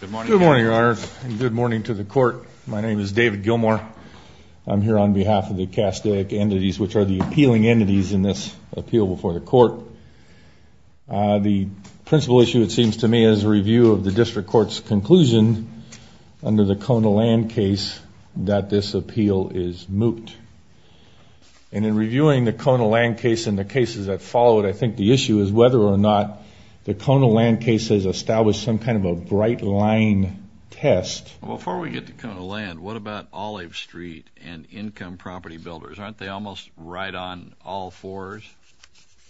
Good morning, Your Honor, and good morning to the Court. My name is David Gilmore. I'm here on behalf of the Castaic Entities, which are the appealing entities in this appeal before the Court. The principal issue, it seems to me, is a review of the District Court's conclusion under the Kona land case that this appeal is moot. And in reviewing the Kona land case and the cases that followed, I think the issue is whether or not the Kona land case has established some kind of a bright line test. Before we get to Kona land, what about Olive Street and Income Property Builders? Aren't they almost right on all fours?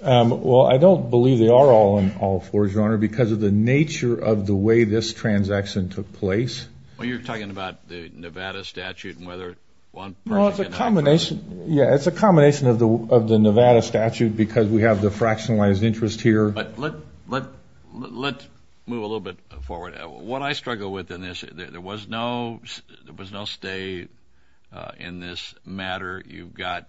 Well, I don't believe they are all on all fours, Your Honor, because of the nature of the way this transaction took place. Well, you're talking about the Nevada statute and whether one person can offer it. Well, it's a combination. Yeah, it's a combination of the Nevada statute because we have the fractionalized interest here. But let's move a little bit forward. What I struggle with in this, there was no stay in this matter. You've got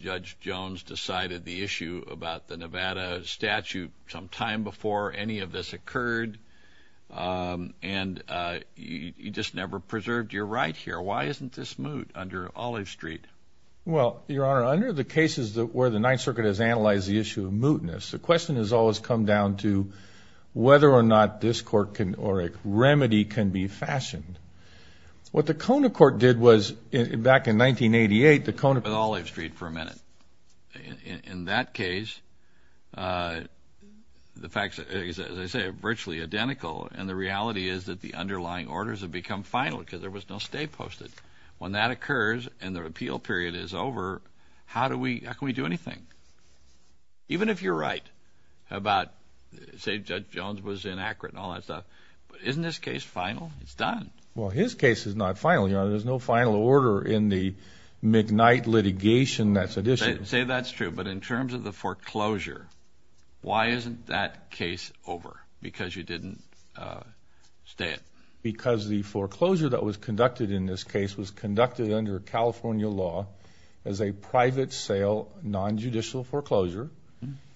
Judge Jones decided the issue about the Nevada statute some time before any of this occurred, and you just never preserved your right here. Why isn't this moot under Olive Street? Well, Your Honor, under the cases where the Ninth Circuit has analyzed the issue of mootness, the question has always come down to whether or not this court or a remedy can be fashioned. What the Kona court did was, back in 1988, the Kona court was in Olive Street for a minute. In that case, the facts, as I say, are virtually identical, and the reality is that the underlying orders have become final because there was no stay posted. When that occurs and the repeal period is over, how can we do anything? Even if you're right about, say, Judge Jones was inaccurate and all that stuff, isn't this case final? It's done. Well, his case is not final, Your Honor. There's no final order in the McKnight litigation that's at issue. Say that's true, but in terms of the foreclosure, why isn't that case over? Because you didn't stay it. Because the foreclosure that was conducted in this case was conducted under California law as a private sale, nonjudicial foreclosure,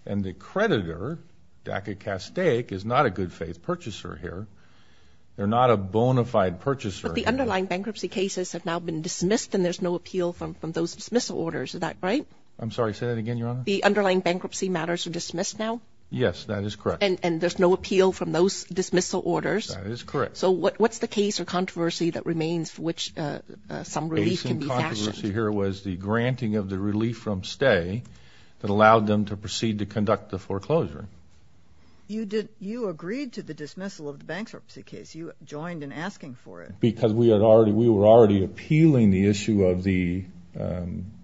and the creditor, DACA Castaic, is not a good-faith purchaser here. They're not a bona fide purchaser. But the underlying bankruptcy cases have now been dismissed, and there's no appeal from those dismissal orders. Is that right? I'm sorry, say that again, Your Honor. The underlying bankruptcy matters are dismissed now? Yes, that is correct. And there's no appeal from those dismissal orders? That is correct. So what's the case or controversy that remains for which some relief can be fashioned? The case in controversy here was the granting of the relief from stay that allowed them to proceed to conduct the foreclosure. You agreed to the dismissal of the bankruptcy case. You joined in asking for it. Because we were already appealing the issue of the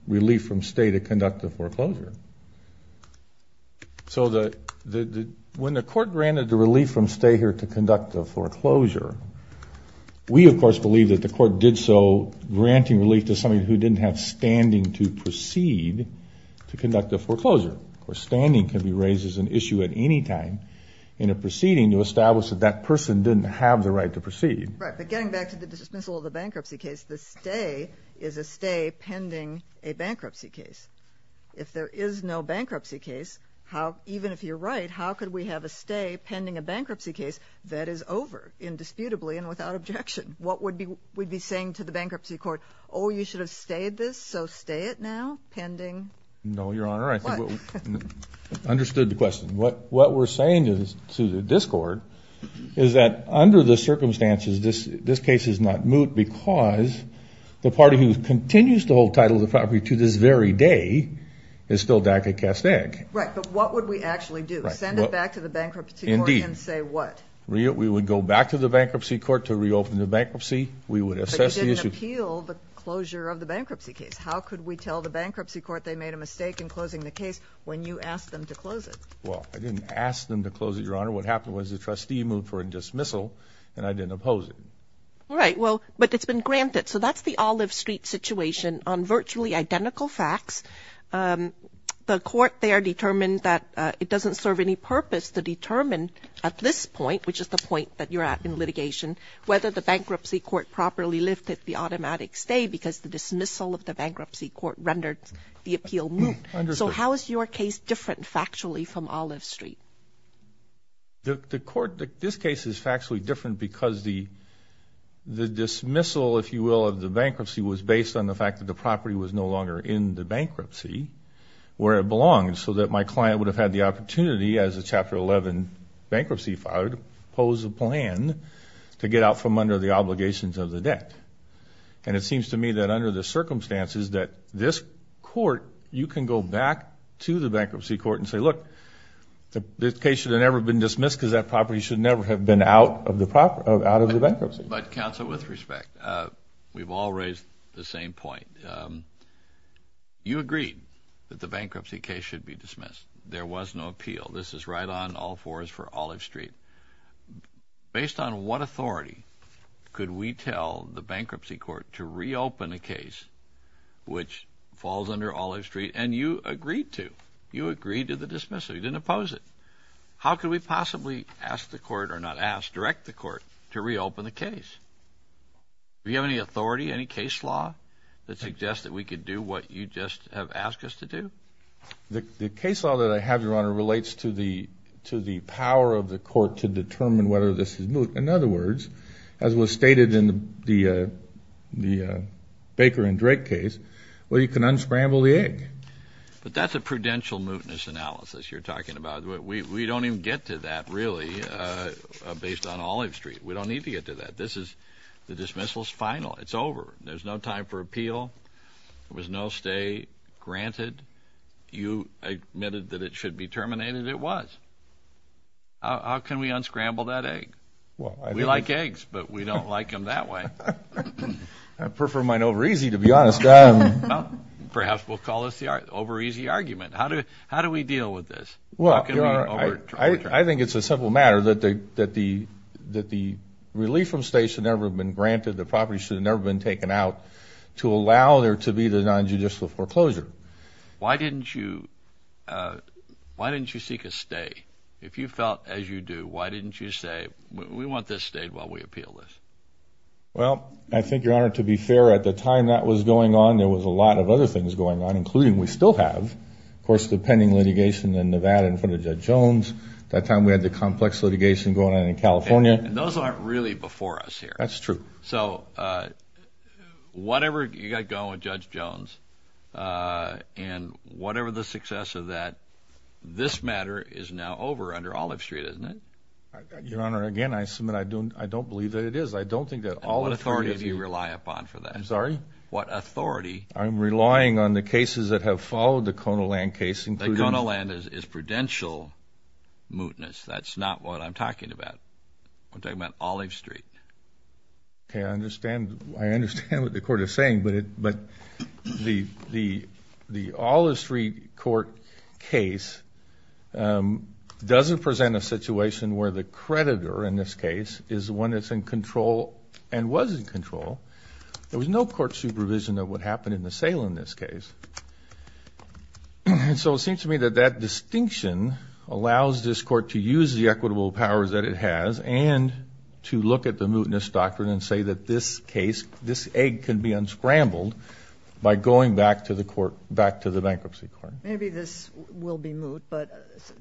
relief from stay to conduct the foreclosure. So when the court granted the relief from stay here to conduct the foreclosure, we, of course, believe that the court did so granting relief to somebody who didn't have standing to proceed to conduct the foreclosure. Of course, standing can be raised as an issue at any time in a proceeding to establish that that person didn't have the right to proceed. Right, but getting back to the dismissal of the bankruptcy case, the stay is a stay pending a bankruptcy case. If there is no bankruptcy case, even if you're right, how could we have a stay pending a bankruptcy case that is over indisputably and without objection? What would we be saying to the bankruptcy court? Oh, you should have stayed this, so stay it now pending what? No, Your Honor, I think we understood the question. What we're saying to the discord is that under the circumstances, this case is not moot because the party who continues to hold title of the property to this very day is still DACA cast egg. Right, but what would we actually do? Send it back to the bankruptcy court and say what? We would go back to the bankruptcy court to reopen the bankruptcy. We would assess the issue. But you didn't appeal the closure of the bankruptcy case. How could we tell the bankruptcy court they made a mistake in closing the case when you asked them to close it? Well, I didn't ask them to close it, Your Honor. What happened was the trustee moved for a dismissal, and I didn't oppose it. Right, well, but it's been granted. So that's the Olive Street situation on virtually identical facts. The court there determined that it doesn't serve any purpose to determine at this point, which is the point that you're at in litigation, whether the bankruptcy court properly lifted the automatic stay because the dismissal of the bankruptcy court rendered the appeal moot. So how is your case different factually from Olive Street? The court, this case is factually different because the dismissal, if you will, of the bankruptcy was based on the fact that the property was no longer in the bankruptcy where it belonged so that my client would have had the opportunity, as a Chapter 11 bankruptcy file, to pose a plan to get out from under the obligations of the debt. And it seems to me that under the circumstances that this court, you can go back to the bankruptcy court and say, look, this case should have never been dismissed because that property should never have been out of the bankruptcy. But, counsel, with respect, we've all raised the same point. You agreed that the bankruptcy case should be dismissed. There was no appeal. This is right on all fours for Olive Street. Based on what authority could we tell the bankruptcy court to reopen a case which falls under Olive Street? And you agreed to. You agreed to the dismissal. You didn't oppose it. How could we possibly ask the court, or not ask, direct the court to reopen the case? Do you have any authority, any case law, that suggests that we could do what you just have asked us to do? The case law that I have, Your Honor, relates to the power of the court to determine whether this is moot. In other words, as was stated in the Baker and Drake case, well, you can unscramble the egg. But that's a prudential mootness analysis you're talking about. We don't even get to that, really, based on Olive Street. We don't need to get to that. This is the dismissal's final. It's over. There's no time for appeal. There was no stay granted. You admitted that it should be terminated. It was. How can we unscramble that egg? We like eggs, but we don't like them that way. I prefer mine over easy, to be honest. Perhaps we'll call this the over easy argument. How do we deal with this? I think it's a simple matter that the relief from stay should never have been granted. The property should have never been taken out to allow there to be the nonjudicial foreclosure. Why didn't you seek a stay? If you felt as you do, why didn't you say, we want this stayed while we appeal this? Well, I think, Your Honor, to be fair, at the time that was going on, there was a lot of other things going on, including we still have, of course, the pending litigation in Nevada in front of Judge Jones. That time we had the complex litigation going on in California. And those aren't really before us here. That's true. So whatever you got going with Judge Jones and whatever the success of that, this matter is now over under Olive Street, isn't it? Your Honor, again, I submit I don't believe that it is. I don't think that Olive Street is. And what authority do you rely upon for that? I'm sorry? What authority? I'm relying on the cases that have followed the Konoland case, including... The Konoland is prudential mootness. That's not what I'm talking about. I'm talking about Olive Street. Okay. I understand what the Court is saying. But the Olive Street court case doesn't present a situation where the creditor, in this case, is the one that's in control and was in control. There was no court supervision of what happened in the sale in this case. And so it seems to me that that distinction allows this court to use the to look at the mootness doctrine and say that this case, this egg can be unscrambled by going back to the bankruptcy court. Maybe this will be moot, but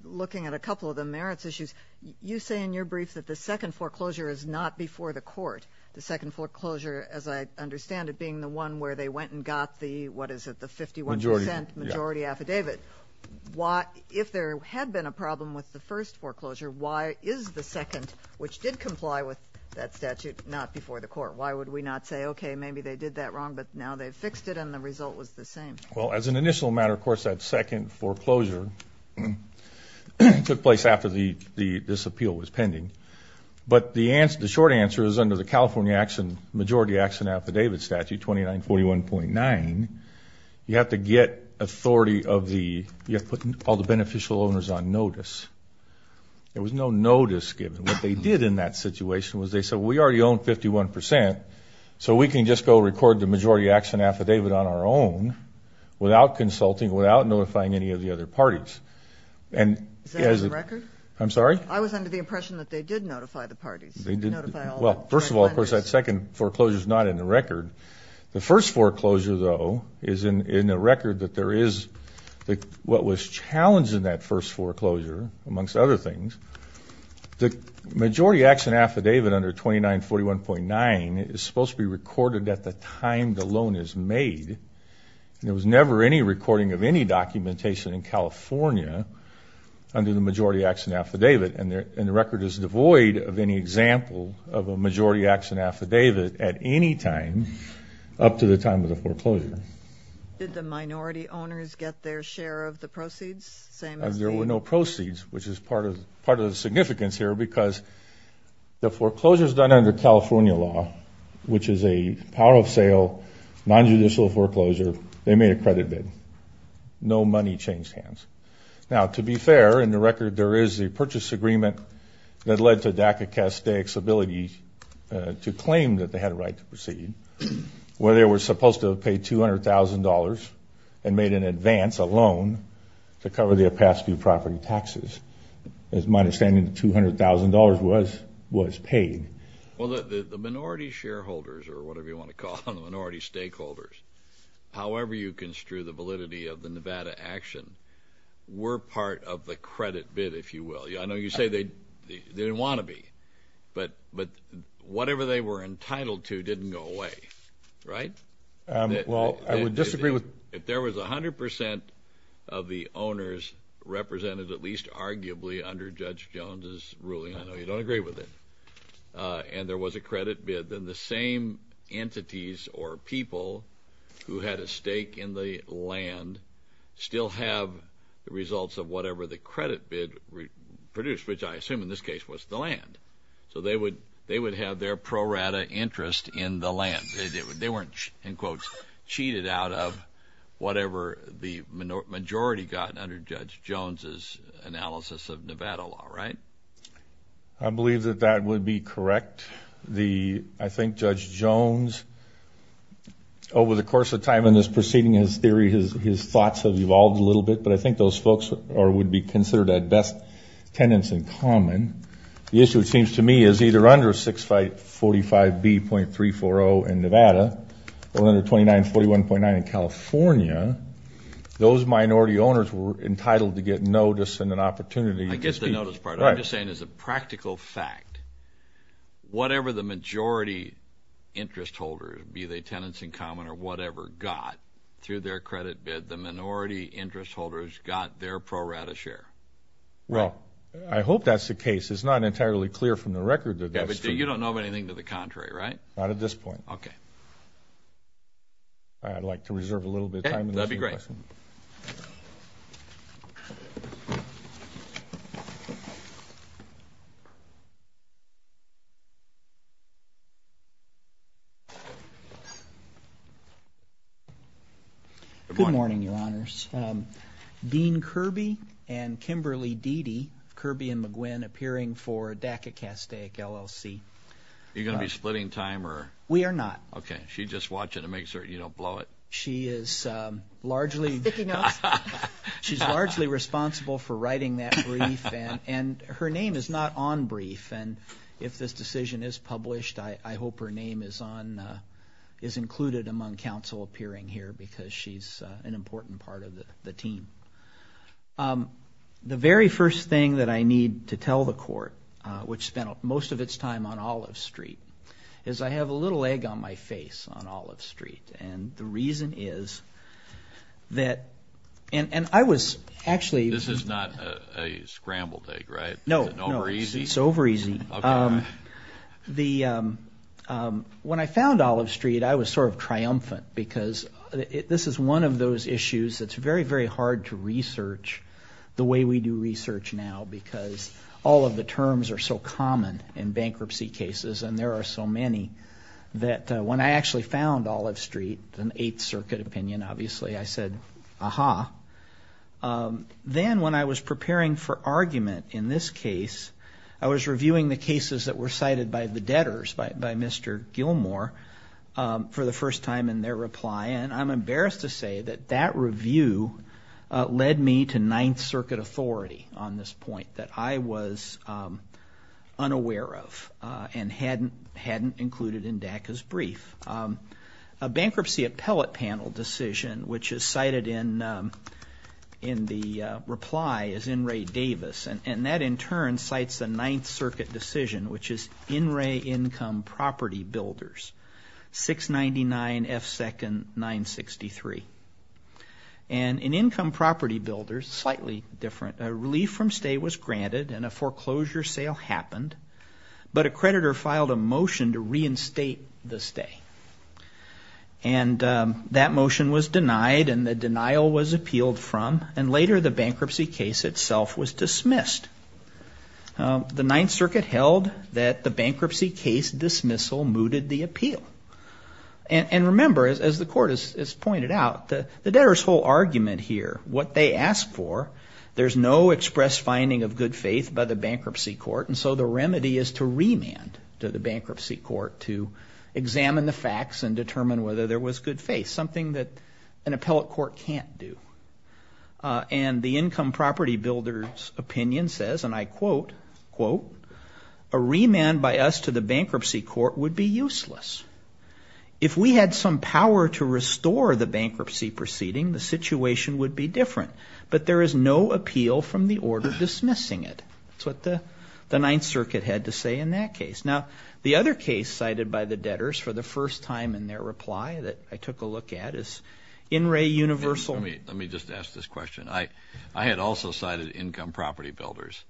looking at a couple of the merits issues, you say in your brief that the second foreclosure is not before the court. The second foreclosure, as I understand it, being the one where they went and got the, what is it, the 51% majority affidavit. If there had been a problem with the first foreclosure, why is the second, which did comply with that statute, not before the court? Why would we not say, okay, maybe they did that wrong, but now they've fixed it and the result was the same? Well, as an initial matter, of course, that second foreclosure took place after this appeal was pending. But the short answer is under the California majority action affidavit statute, 2941.9, you have to get authority of the, you have to put all the beneficial owners on notice. There was no notice given. What they did in that situation was they said, well, we already own 51%, so we can just go record the majority action affidavit on our own without consulting, without notifying any of the other parties. Is that in the record? I'm sorry? I was under the impression that they did notify the parties. They did. Well, first of all, of course, that second foreclosure is not in the record. The first foreclosure, though, is in the record that there is, what was challenged in that first foreclosure, amongst other things, the majority action affidavit under 2941.9 is supposed to be recorded at the time the loan is made. There was never any recording of any documentation in California under the majority action affidavit, and the record is devoid of any example of a majority action affidavit at any time up to the time of the foreclosure. Did the minority owners get their share of the proceeds? There were no proceeds, which is part of the significance here, because the foreclosures done under California law, which is a power of sale, nonjudicial foreclosure, they made a credit bid. No money changed hands. Now, to be fair, in the record, there is a purchase agreement that led to DACA-CASDAIC's ability to claim that they had a right to proceed, where they were supposed to pay $200,000 and made in advance a loan to cover their past few property taxes. As my understanding, $200,000 was paid. Well, the minority shareholders, or whatever you want to call them, the minority stakeholders, however you construe the validity of the Nevada action, were part of the credit bid, if you will. I know you say they didn't want to be, but whatever they were entitled to didn't go away, right? Well, I would disagree with – If there was 100 percent of the owners represented, at least arguably under Judge Jones's ruling, I know you don't agree with it, and there was a credit bid, then the same entities or people who had a stake in the land still have the results of whatever the credit bid produced, which I assume in this case was the land. So they would have their pro rata interest in the land. They weren't, in quotes, cheated out of whatever the majority got under Judge Jones's analysis of Nevada law, right? I believe that that would be correct. I think Judge Jones, over the course of time in this proceeding, his theory, his thoughts have evolved a little bit, but I think those folks would be considered at best tenants in common. The issue, it seems to me, is either under 645B.340 in Nevada or under 2941.9 in California, those minority owners were entitled to get notice and an opportunity. I get the notice part. I'm just saying as a practical fact, whatever the majority interest holder, be they tenants in common or whatever, got through their credit bid, the minority interest holders got their pro rata share. Well, I hope that's the case. It's not entirely clear from the record that that's true. Yeah, but you don't know of anything to the contrary, right? Not at this point. Okay. I'd like to reserve a little bit of time. That would be great. Good morning, Your Honors. Dean Kirby and Kimberly Deedy, Kirby and McGuinn, appearing for DACA-Castaic LLC. Are you going to be splitting time? We are not. Okay. She's just watching to make sure you don't blow it. She is largely responsible for writing that brief, and her name is not on brief. And if this decision is published, I hope her name is included among counsel appearing here because she's an important part of the team. The very first thing that I need to tell the court, which spent most of its time on Olive Street, is I have a little egg on my face on Olive Street. And the reason is that, and I was actually... This is not a scrambled egg, right? No. Is it over easy? It's over easy. Okay. When I found Olive Street, I was sort of triumphant because this is one of those issues that's very, very hard to research the way we do research now because all of the terms are so common in bankruptcy cases, and there are so many, that when I actually found Olive Street, an Eighth Circuit opinion, obviously, I said, aha. Then when I was preparing for argument in this case, I was reviewing the cases that were cited by the debtors, by Mr. Gilmour, for the first time in their reply, and I'm embarrassed to say that that review led me to Ninth Circuit authority on this point that I was unaware of and hadn't included in DACA's brief. A bankruptcy appellate panel decision, which is cited in the reply, is N. Ray Davis, and that, in turn, cites the Ninth Circuit decision, which is N. Ray Income Property Builders, 699 F. 2nd 963. And an income property builder, slightly different, a relief from stay was granted and a foreclosure sale happened, but a creditor filed a motion to reinstate the stay. And that motion was denied, and the denial was appealed from, and later the bankruptcy case itself was dismissed. The Ninth Circuit held that the bankruptcy case dismissal mooted the appeal. And remember, as the court has pointed out, the debtors' whole argument here, what they asked for, there's no express finding of good faith by the bankruptcy court, and so the remedy is to remand to the bankruptcy court to examine the facts and determine whether there was good faith, something that an appellate court can't do. And the income property builder's opinion says, and I quote, quote, a remand by us to the bankruptcy court would be useless. If we had some power to restore the bankruptcy proceeding, the situation would be different, but there is no appeal from the order dismissing it. That's what the Ninth Circuit had to say in that case. Now, the other case cited by the debtors for the first time in their reply that I took a look at is In Re Universal. Let me just ask this question. I had also cited income property builders,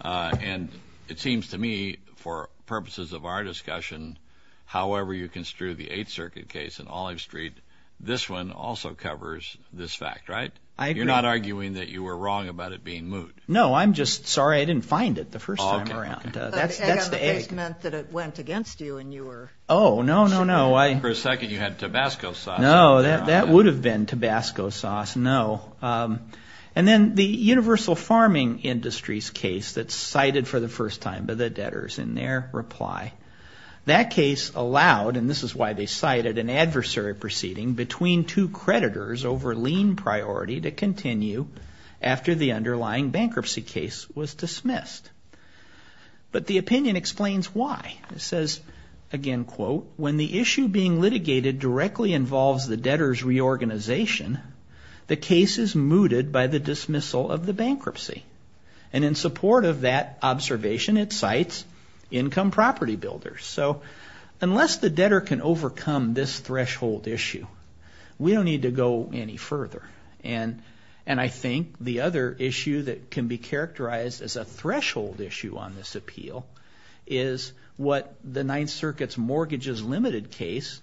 and it seems to me for purposes of our discussion, however you construe the Eighth Circuit case in Olive Street, this one also covers this fact, right? I agree. You're not arguing that you were wrong about it being moot. No, I'm just sorry I didn't find it the first time around. That's the egg. It meant that it went against you and you were. Oh, no, no, no. For a second you had Tabasco sauce. No, that would have been Tabasco sauce, no. And then the Universal Farming Industries case that's cited for the first time by the debtors in their reply. That case allowed, and this is why they cited, an adversary proceeding between two creditors over lien priority to continue after the underlying bankruptcy case was dismissed. But the opinion explains why. It says, again, quote, when the issue being litigated directly involves the debtor's reorganization, the case is mooted by the dismissal of the bankruptcy. And in support of that observation, it cites income property builders. So unless the debtor can overcome this threshold issue, we don't need to go any further. And I think the other issue that can be characterized as a threshold issue on this appeal is what the Ninth Circuit's mortgages limited case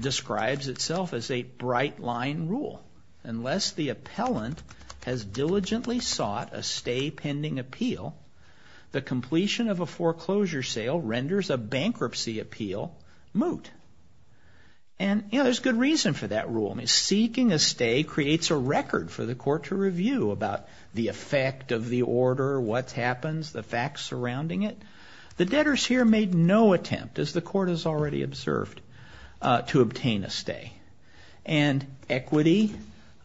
describes itself as a bright line rule. Unless the appellant has diligently sought a stay pending appeal, the completion of a foreclosure sale renders a bankruptcy appeal moot. And, you know, there's good reason for that rule. I mean, seeking a stay creates a record for the court to review about the effect of the order, what happens, the facts surrounding it. The debtors here made no attempt, as the court has already observed, to obtain a stay. And equity,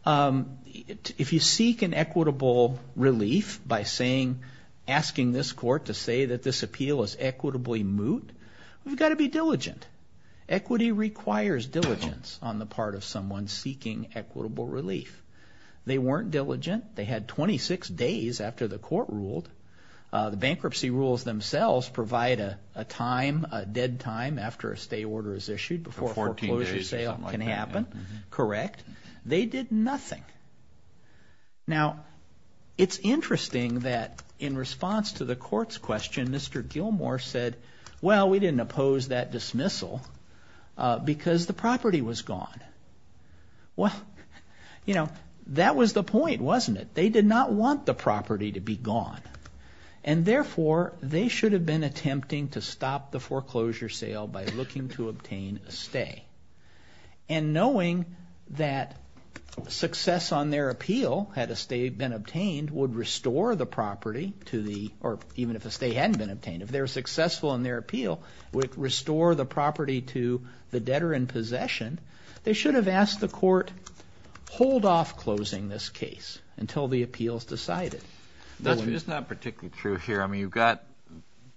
if you seek an equitable relief by saying, asking this court to say that this appeal is equitably moot, you've got to be diligent. Equity requires diligence on the part of someone seeking equitable relief. They weren't diligent. They had 26 days after the court ruled. The bankruptcy rules themselves provide a time, a dead time after a stay order is issued before a foreclosure sale can happen. Correct. They did nothing. Now, it's interesting that in response to the court's question, Mr. Gilmour said, well, we didn't oppose that dismissal because the property was gone. Well, you know, that was the point, wasn't it? They did not want the property to be gone. And, therefore, they should have been attempting to stop the foreclosure sale by looking to obtain a stay. And knowing that success on their appeal, had a stay been obtained, would restore the property to the, or even if a stay hadn't been obtained, if they were successful in their appeal, would restore the property to the debtor in possession, they should have asked the court hold off closing this case until the appeal is decided. It's not particularly true here. I mean, you've got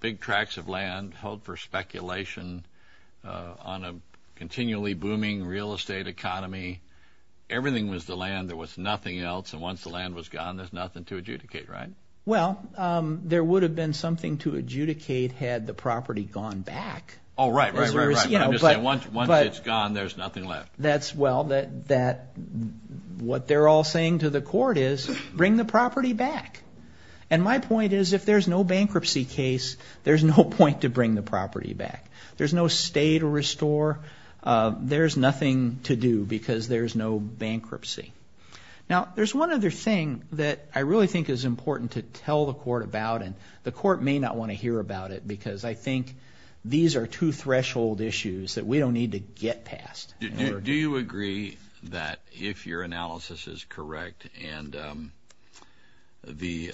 big tracts of land held for speculation on a continually booming real estate economy. Everything was the land. There was nothing else. And once the land was gone, there's nothing to adjudicate, right? Well, there would have been something to adjudicate had the property gone back. Oh, right, right, right. I'm just saying once it's gone, there's nothing left. Well, what they're all saying to the court is bring the property back. And my point is if there's no bankruptcy case, there's no point to bring the property back. There's no stay to restore. There's nothing to do because there's no bankruptcy. Now, there's one other thing that I really think is important to tell the court about, and the court may not want to hear about it because I think these are two threshold issues that we don't need to get past. Do you agree that if your analysis is correct and the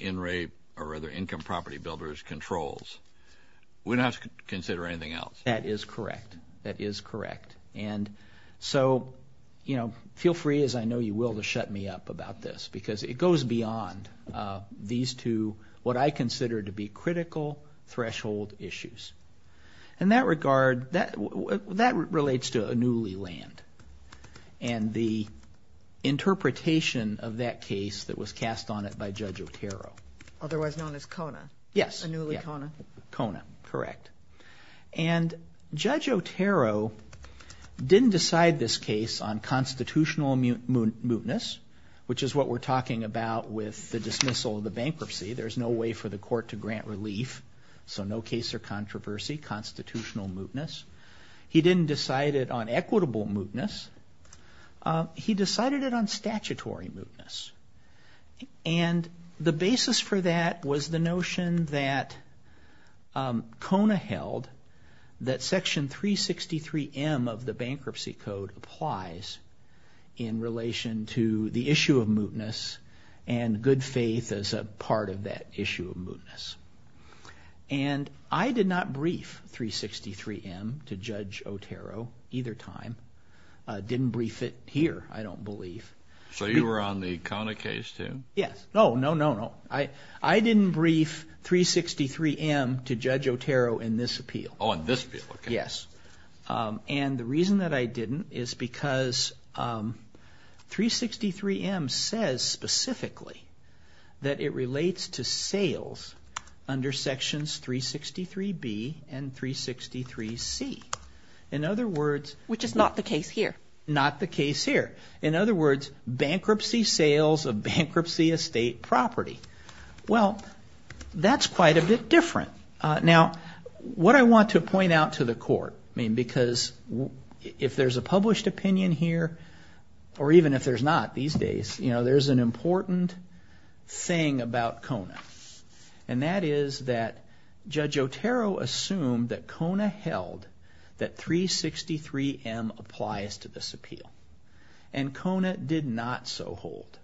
income property builder's controls, we don't have to consider anything else? That is correct. That is correct. And so feel free, as I know you will, to shut me up about this because it goes beyond these two what I consider to be critical threshold issues. In that regard, that relates to a newly land and the interpretation of that case that was cast on it by Judge Otero. Otherwise known as CONA. Yes. A newly CONA. CONA, correct. And Judge Otero didn't decide this case on constitutional mootness, which is what we're talking about with the dismissal of the bankruptcy. There's no way for the court to grant relief, so no case or controversy, constitutional mootness. He didn't decide it on equitable mootness. He decided it on statutory mootness. And the basis for that was the notion that CONA held that Section 363M of the Bankruptcy Code applies in relation to the issue of mootness and good faith as a part of that issue of mootness. And I did not brief 363M to Judge Otero either time. I didn't brief it here, I don't believe. So you were on the CONA case too? Yes. No, no, no, no. I didn't brief 363M to Judge Otero in this appeal. Oh, in this appeal, okay. Yes. And the reason that I didn't is because 363M says specifically that it relates to sales under Sections 363B and 363C. In other words. Which is not the case here. Not the case here. In other words, bankruptcy sales of bankruptcy estate property. Well, that's quite a bit different. Now, what I want to point out to the court, I mean, because if there's a published opinion here or even if there's not these days, you know, there's an important thing about CONA. And that is that Judge Otero assumed that CONA held that 363M applies to this appeal. And CONA did not so hold.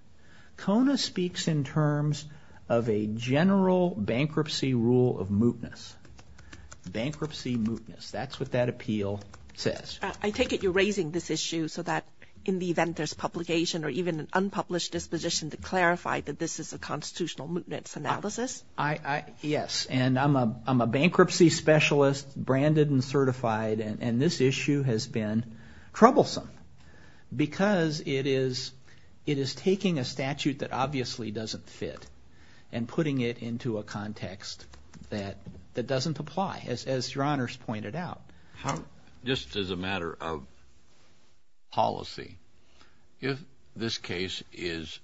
CONA speaks in terms of a general bankruptcy rule of mootness. Bankruptcy mootness. That's what that appeal says. I take it you're raising this issue so that in the event there's publication or even an unpublished disposition to clarify that this is a constitutional mootness analysis? Yes. And I'm a bankruptcy specialist, branded and certified, and this issue has been troublesome because it is taking a statute that obviously doesn't fit and putting it into a context that doesn't apply, as your honors pointed out. Just as a matter of policy, if this case is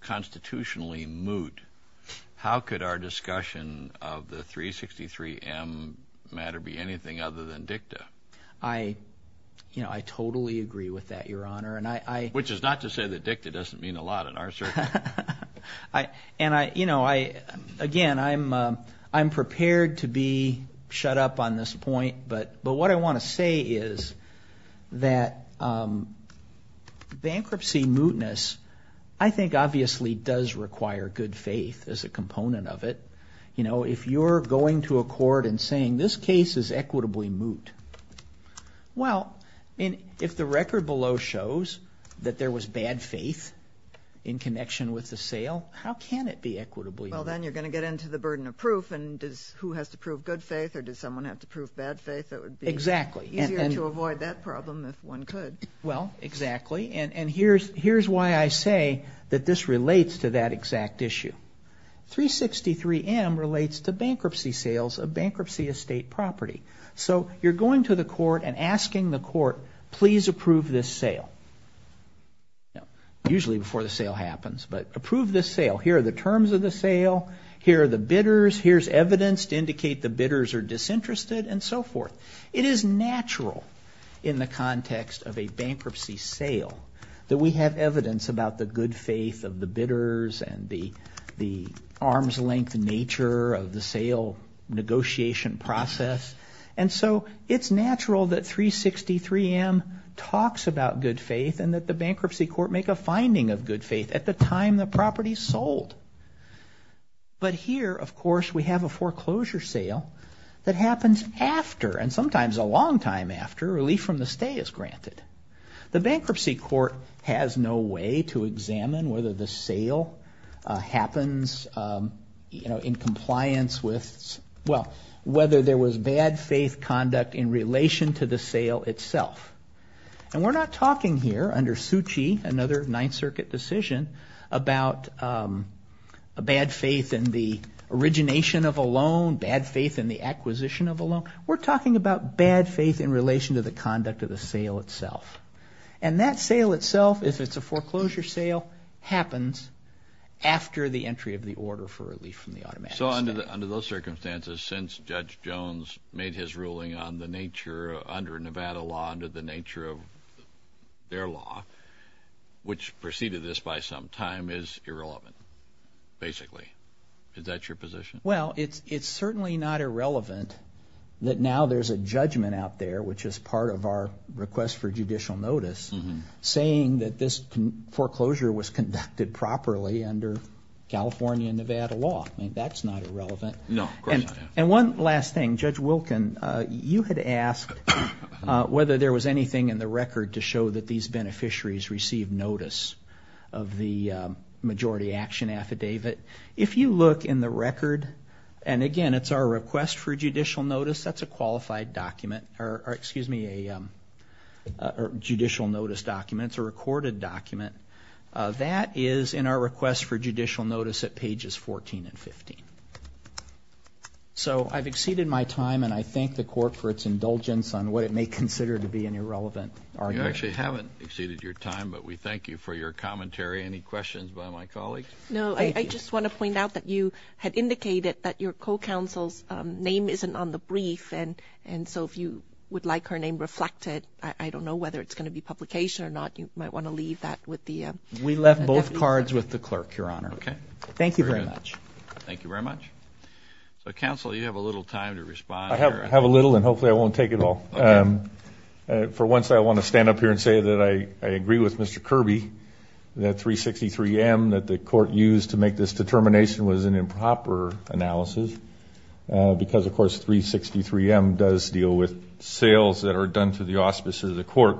constitutionally moot, how could our discussion of the 363M matter be anything other than dicta? I totally agree with that, your honor. Which is not to say that dicta doesn't mean a lot in our circle. And, you know, again, I'm prepared to be shut up on this point. But what I want to say is that bankruptcy mootness I think obviously does require good faith as a component of it. You know, if you're going to a court and saying this case is equitably moot, well, if the record below shows that there was bad faith in connection with the sale, how can it be equitably moot? Well, then you're going to get into the burden of proof, and who has to prove good faith or does someone have to prove bad faith? It would be easier to avoid that problem if one could. Well, exactly. And here's why I say that this relates to that exact issue. 363M relates to bankruptcy sales of bankruptcy estate property. So you're going to the court and asking the court, please approve this sale. Usually before the sale happens, but approve this sale. Here are the terms of the sale. Here are the bidders. Here's evidence to indicate the bidders are disinterested and so forth. It is natural in the context of a bankruptcy sale that we have evidence about the good faith of the bidders and the arm's length nature of the sale negotiation process. And so it's natural that 363M talks about good faith and that the bankruptcy court make a finding of good faith at the time the property is sold. But here, of course, we have a foreclosure sale that happens after, and sometimes a long time after, relief from the stay is granted. The bankruptcy court has no way to examine whether the sale happens in compliance with, well, whether there was bad faith conduct in relation to the sale itself. And we're not talking here under Suchi, another Ninth Circuit decision, about a bad faith in the origination of a loan, bad faith in the acquisition of a loan. We're talking about bad faith in relation to the conduct of the sale itself. And that sale itself, if it's a foreclosure sale, happens after the entry of the order for relief from the automatic stay. So under those circumstances, since Judge Jones made his ruling on the nature under Nevada law, under the nature of their law, which preceded this by some time, is irrelevant, basically. Is that your position? Well, it's certainly not irrelevant that now there's a judgment out there, which is part of our request for judicial notice, saying that this foreclosure was conducted properly under California and Nevada law. I mean, that's not irrelevant. No, of course not. And one last thing. Judge Wilkin, you had asked whether there was anything in the record to show that these beneficiaries received notice of the majority action affidavit. If you look in the record, and, again, it's our request for judicial notice. That's a qualified document. Or, excuse me, a judicial notice document. It's a recorded document. That is in our request for judicial notice at pages 14 and 15. So I've exceeded my time, and I thank the Court for its indulgence on what it may consider to be an irrelevant argument. You actually haven't exceeded your time, but we thank you for your commentary. Any questions by my colleagues? No, I just want to point out that you had indicated that your co-counsel's name isn't on the brief, and so if you would like her name reflected, I don't know whether it's going to be publication or not. You might want to leave that with the deputy. We left both cards with the clerk, Your Honor. Okay. Thank you very much. Thank you very much. So, Counsel, you have a little time to respond. I have a little, and hopefully I won't take it all. Okay. For once, I want to stand up here and say that I agree with Mr. Kirby, that 363M that the Court used to make this determination was an improper analysis because, of course, 363M does deal with sales that are done to the court,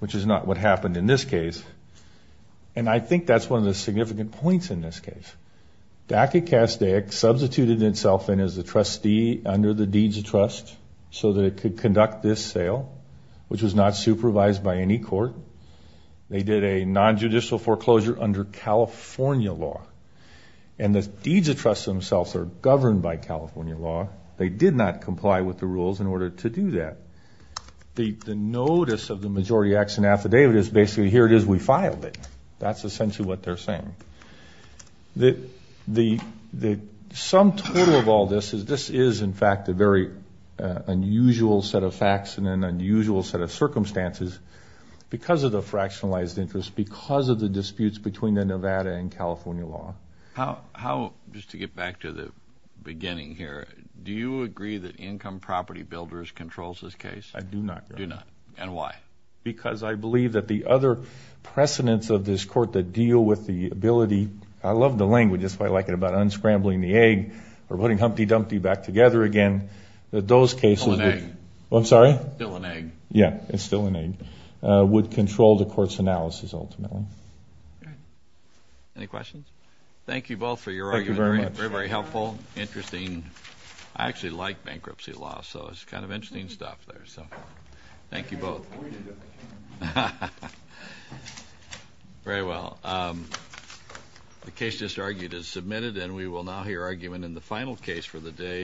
which is not what happened in this case, and I think that's one of the significant points in this case. DACA-CASDA substituted itself in as the trustee under the Deeds of Trust so that it could conduct this sale, which was not supervised by any court. They did a nonjudicial foreclosure under California law, and the Deeds of Trust themselves are governed by California law. They did not comply with the rules in order to do that. The notice of the majority action affidavit is basically, here it is, we filed it. That's essentially what they're saying. The sum total of all this is this is, in fact, a very unusual set of facts and an unusual set of circumstances because of the fractionalized interest, because of the disputes between the Nevada and California law. Just to get back to the beginning here, do you agree that Income Property Builders controls this case? I do not. Do not. And why? Because I believe that the other precedents of this court that deal with the ability, I love the language, that's why I like it, about unscrambling the egg or putting Humpty Dumpty back together again, that those cases would... It's still an egg. I'm sorry? It's still an egg. Yeah, it's still an egg, would control the court's analysis ultimately. Any questions? Thank you both for your argument. Thank you very much. Very, very helpful. Interesting. I actually like bankruptcy law, so it's kind of interesting stuff there. Thank you both. Very well. The case just argued is submitted, and we will now hear argument in the final case for the day.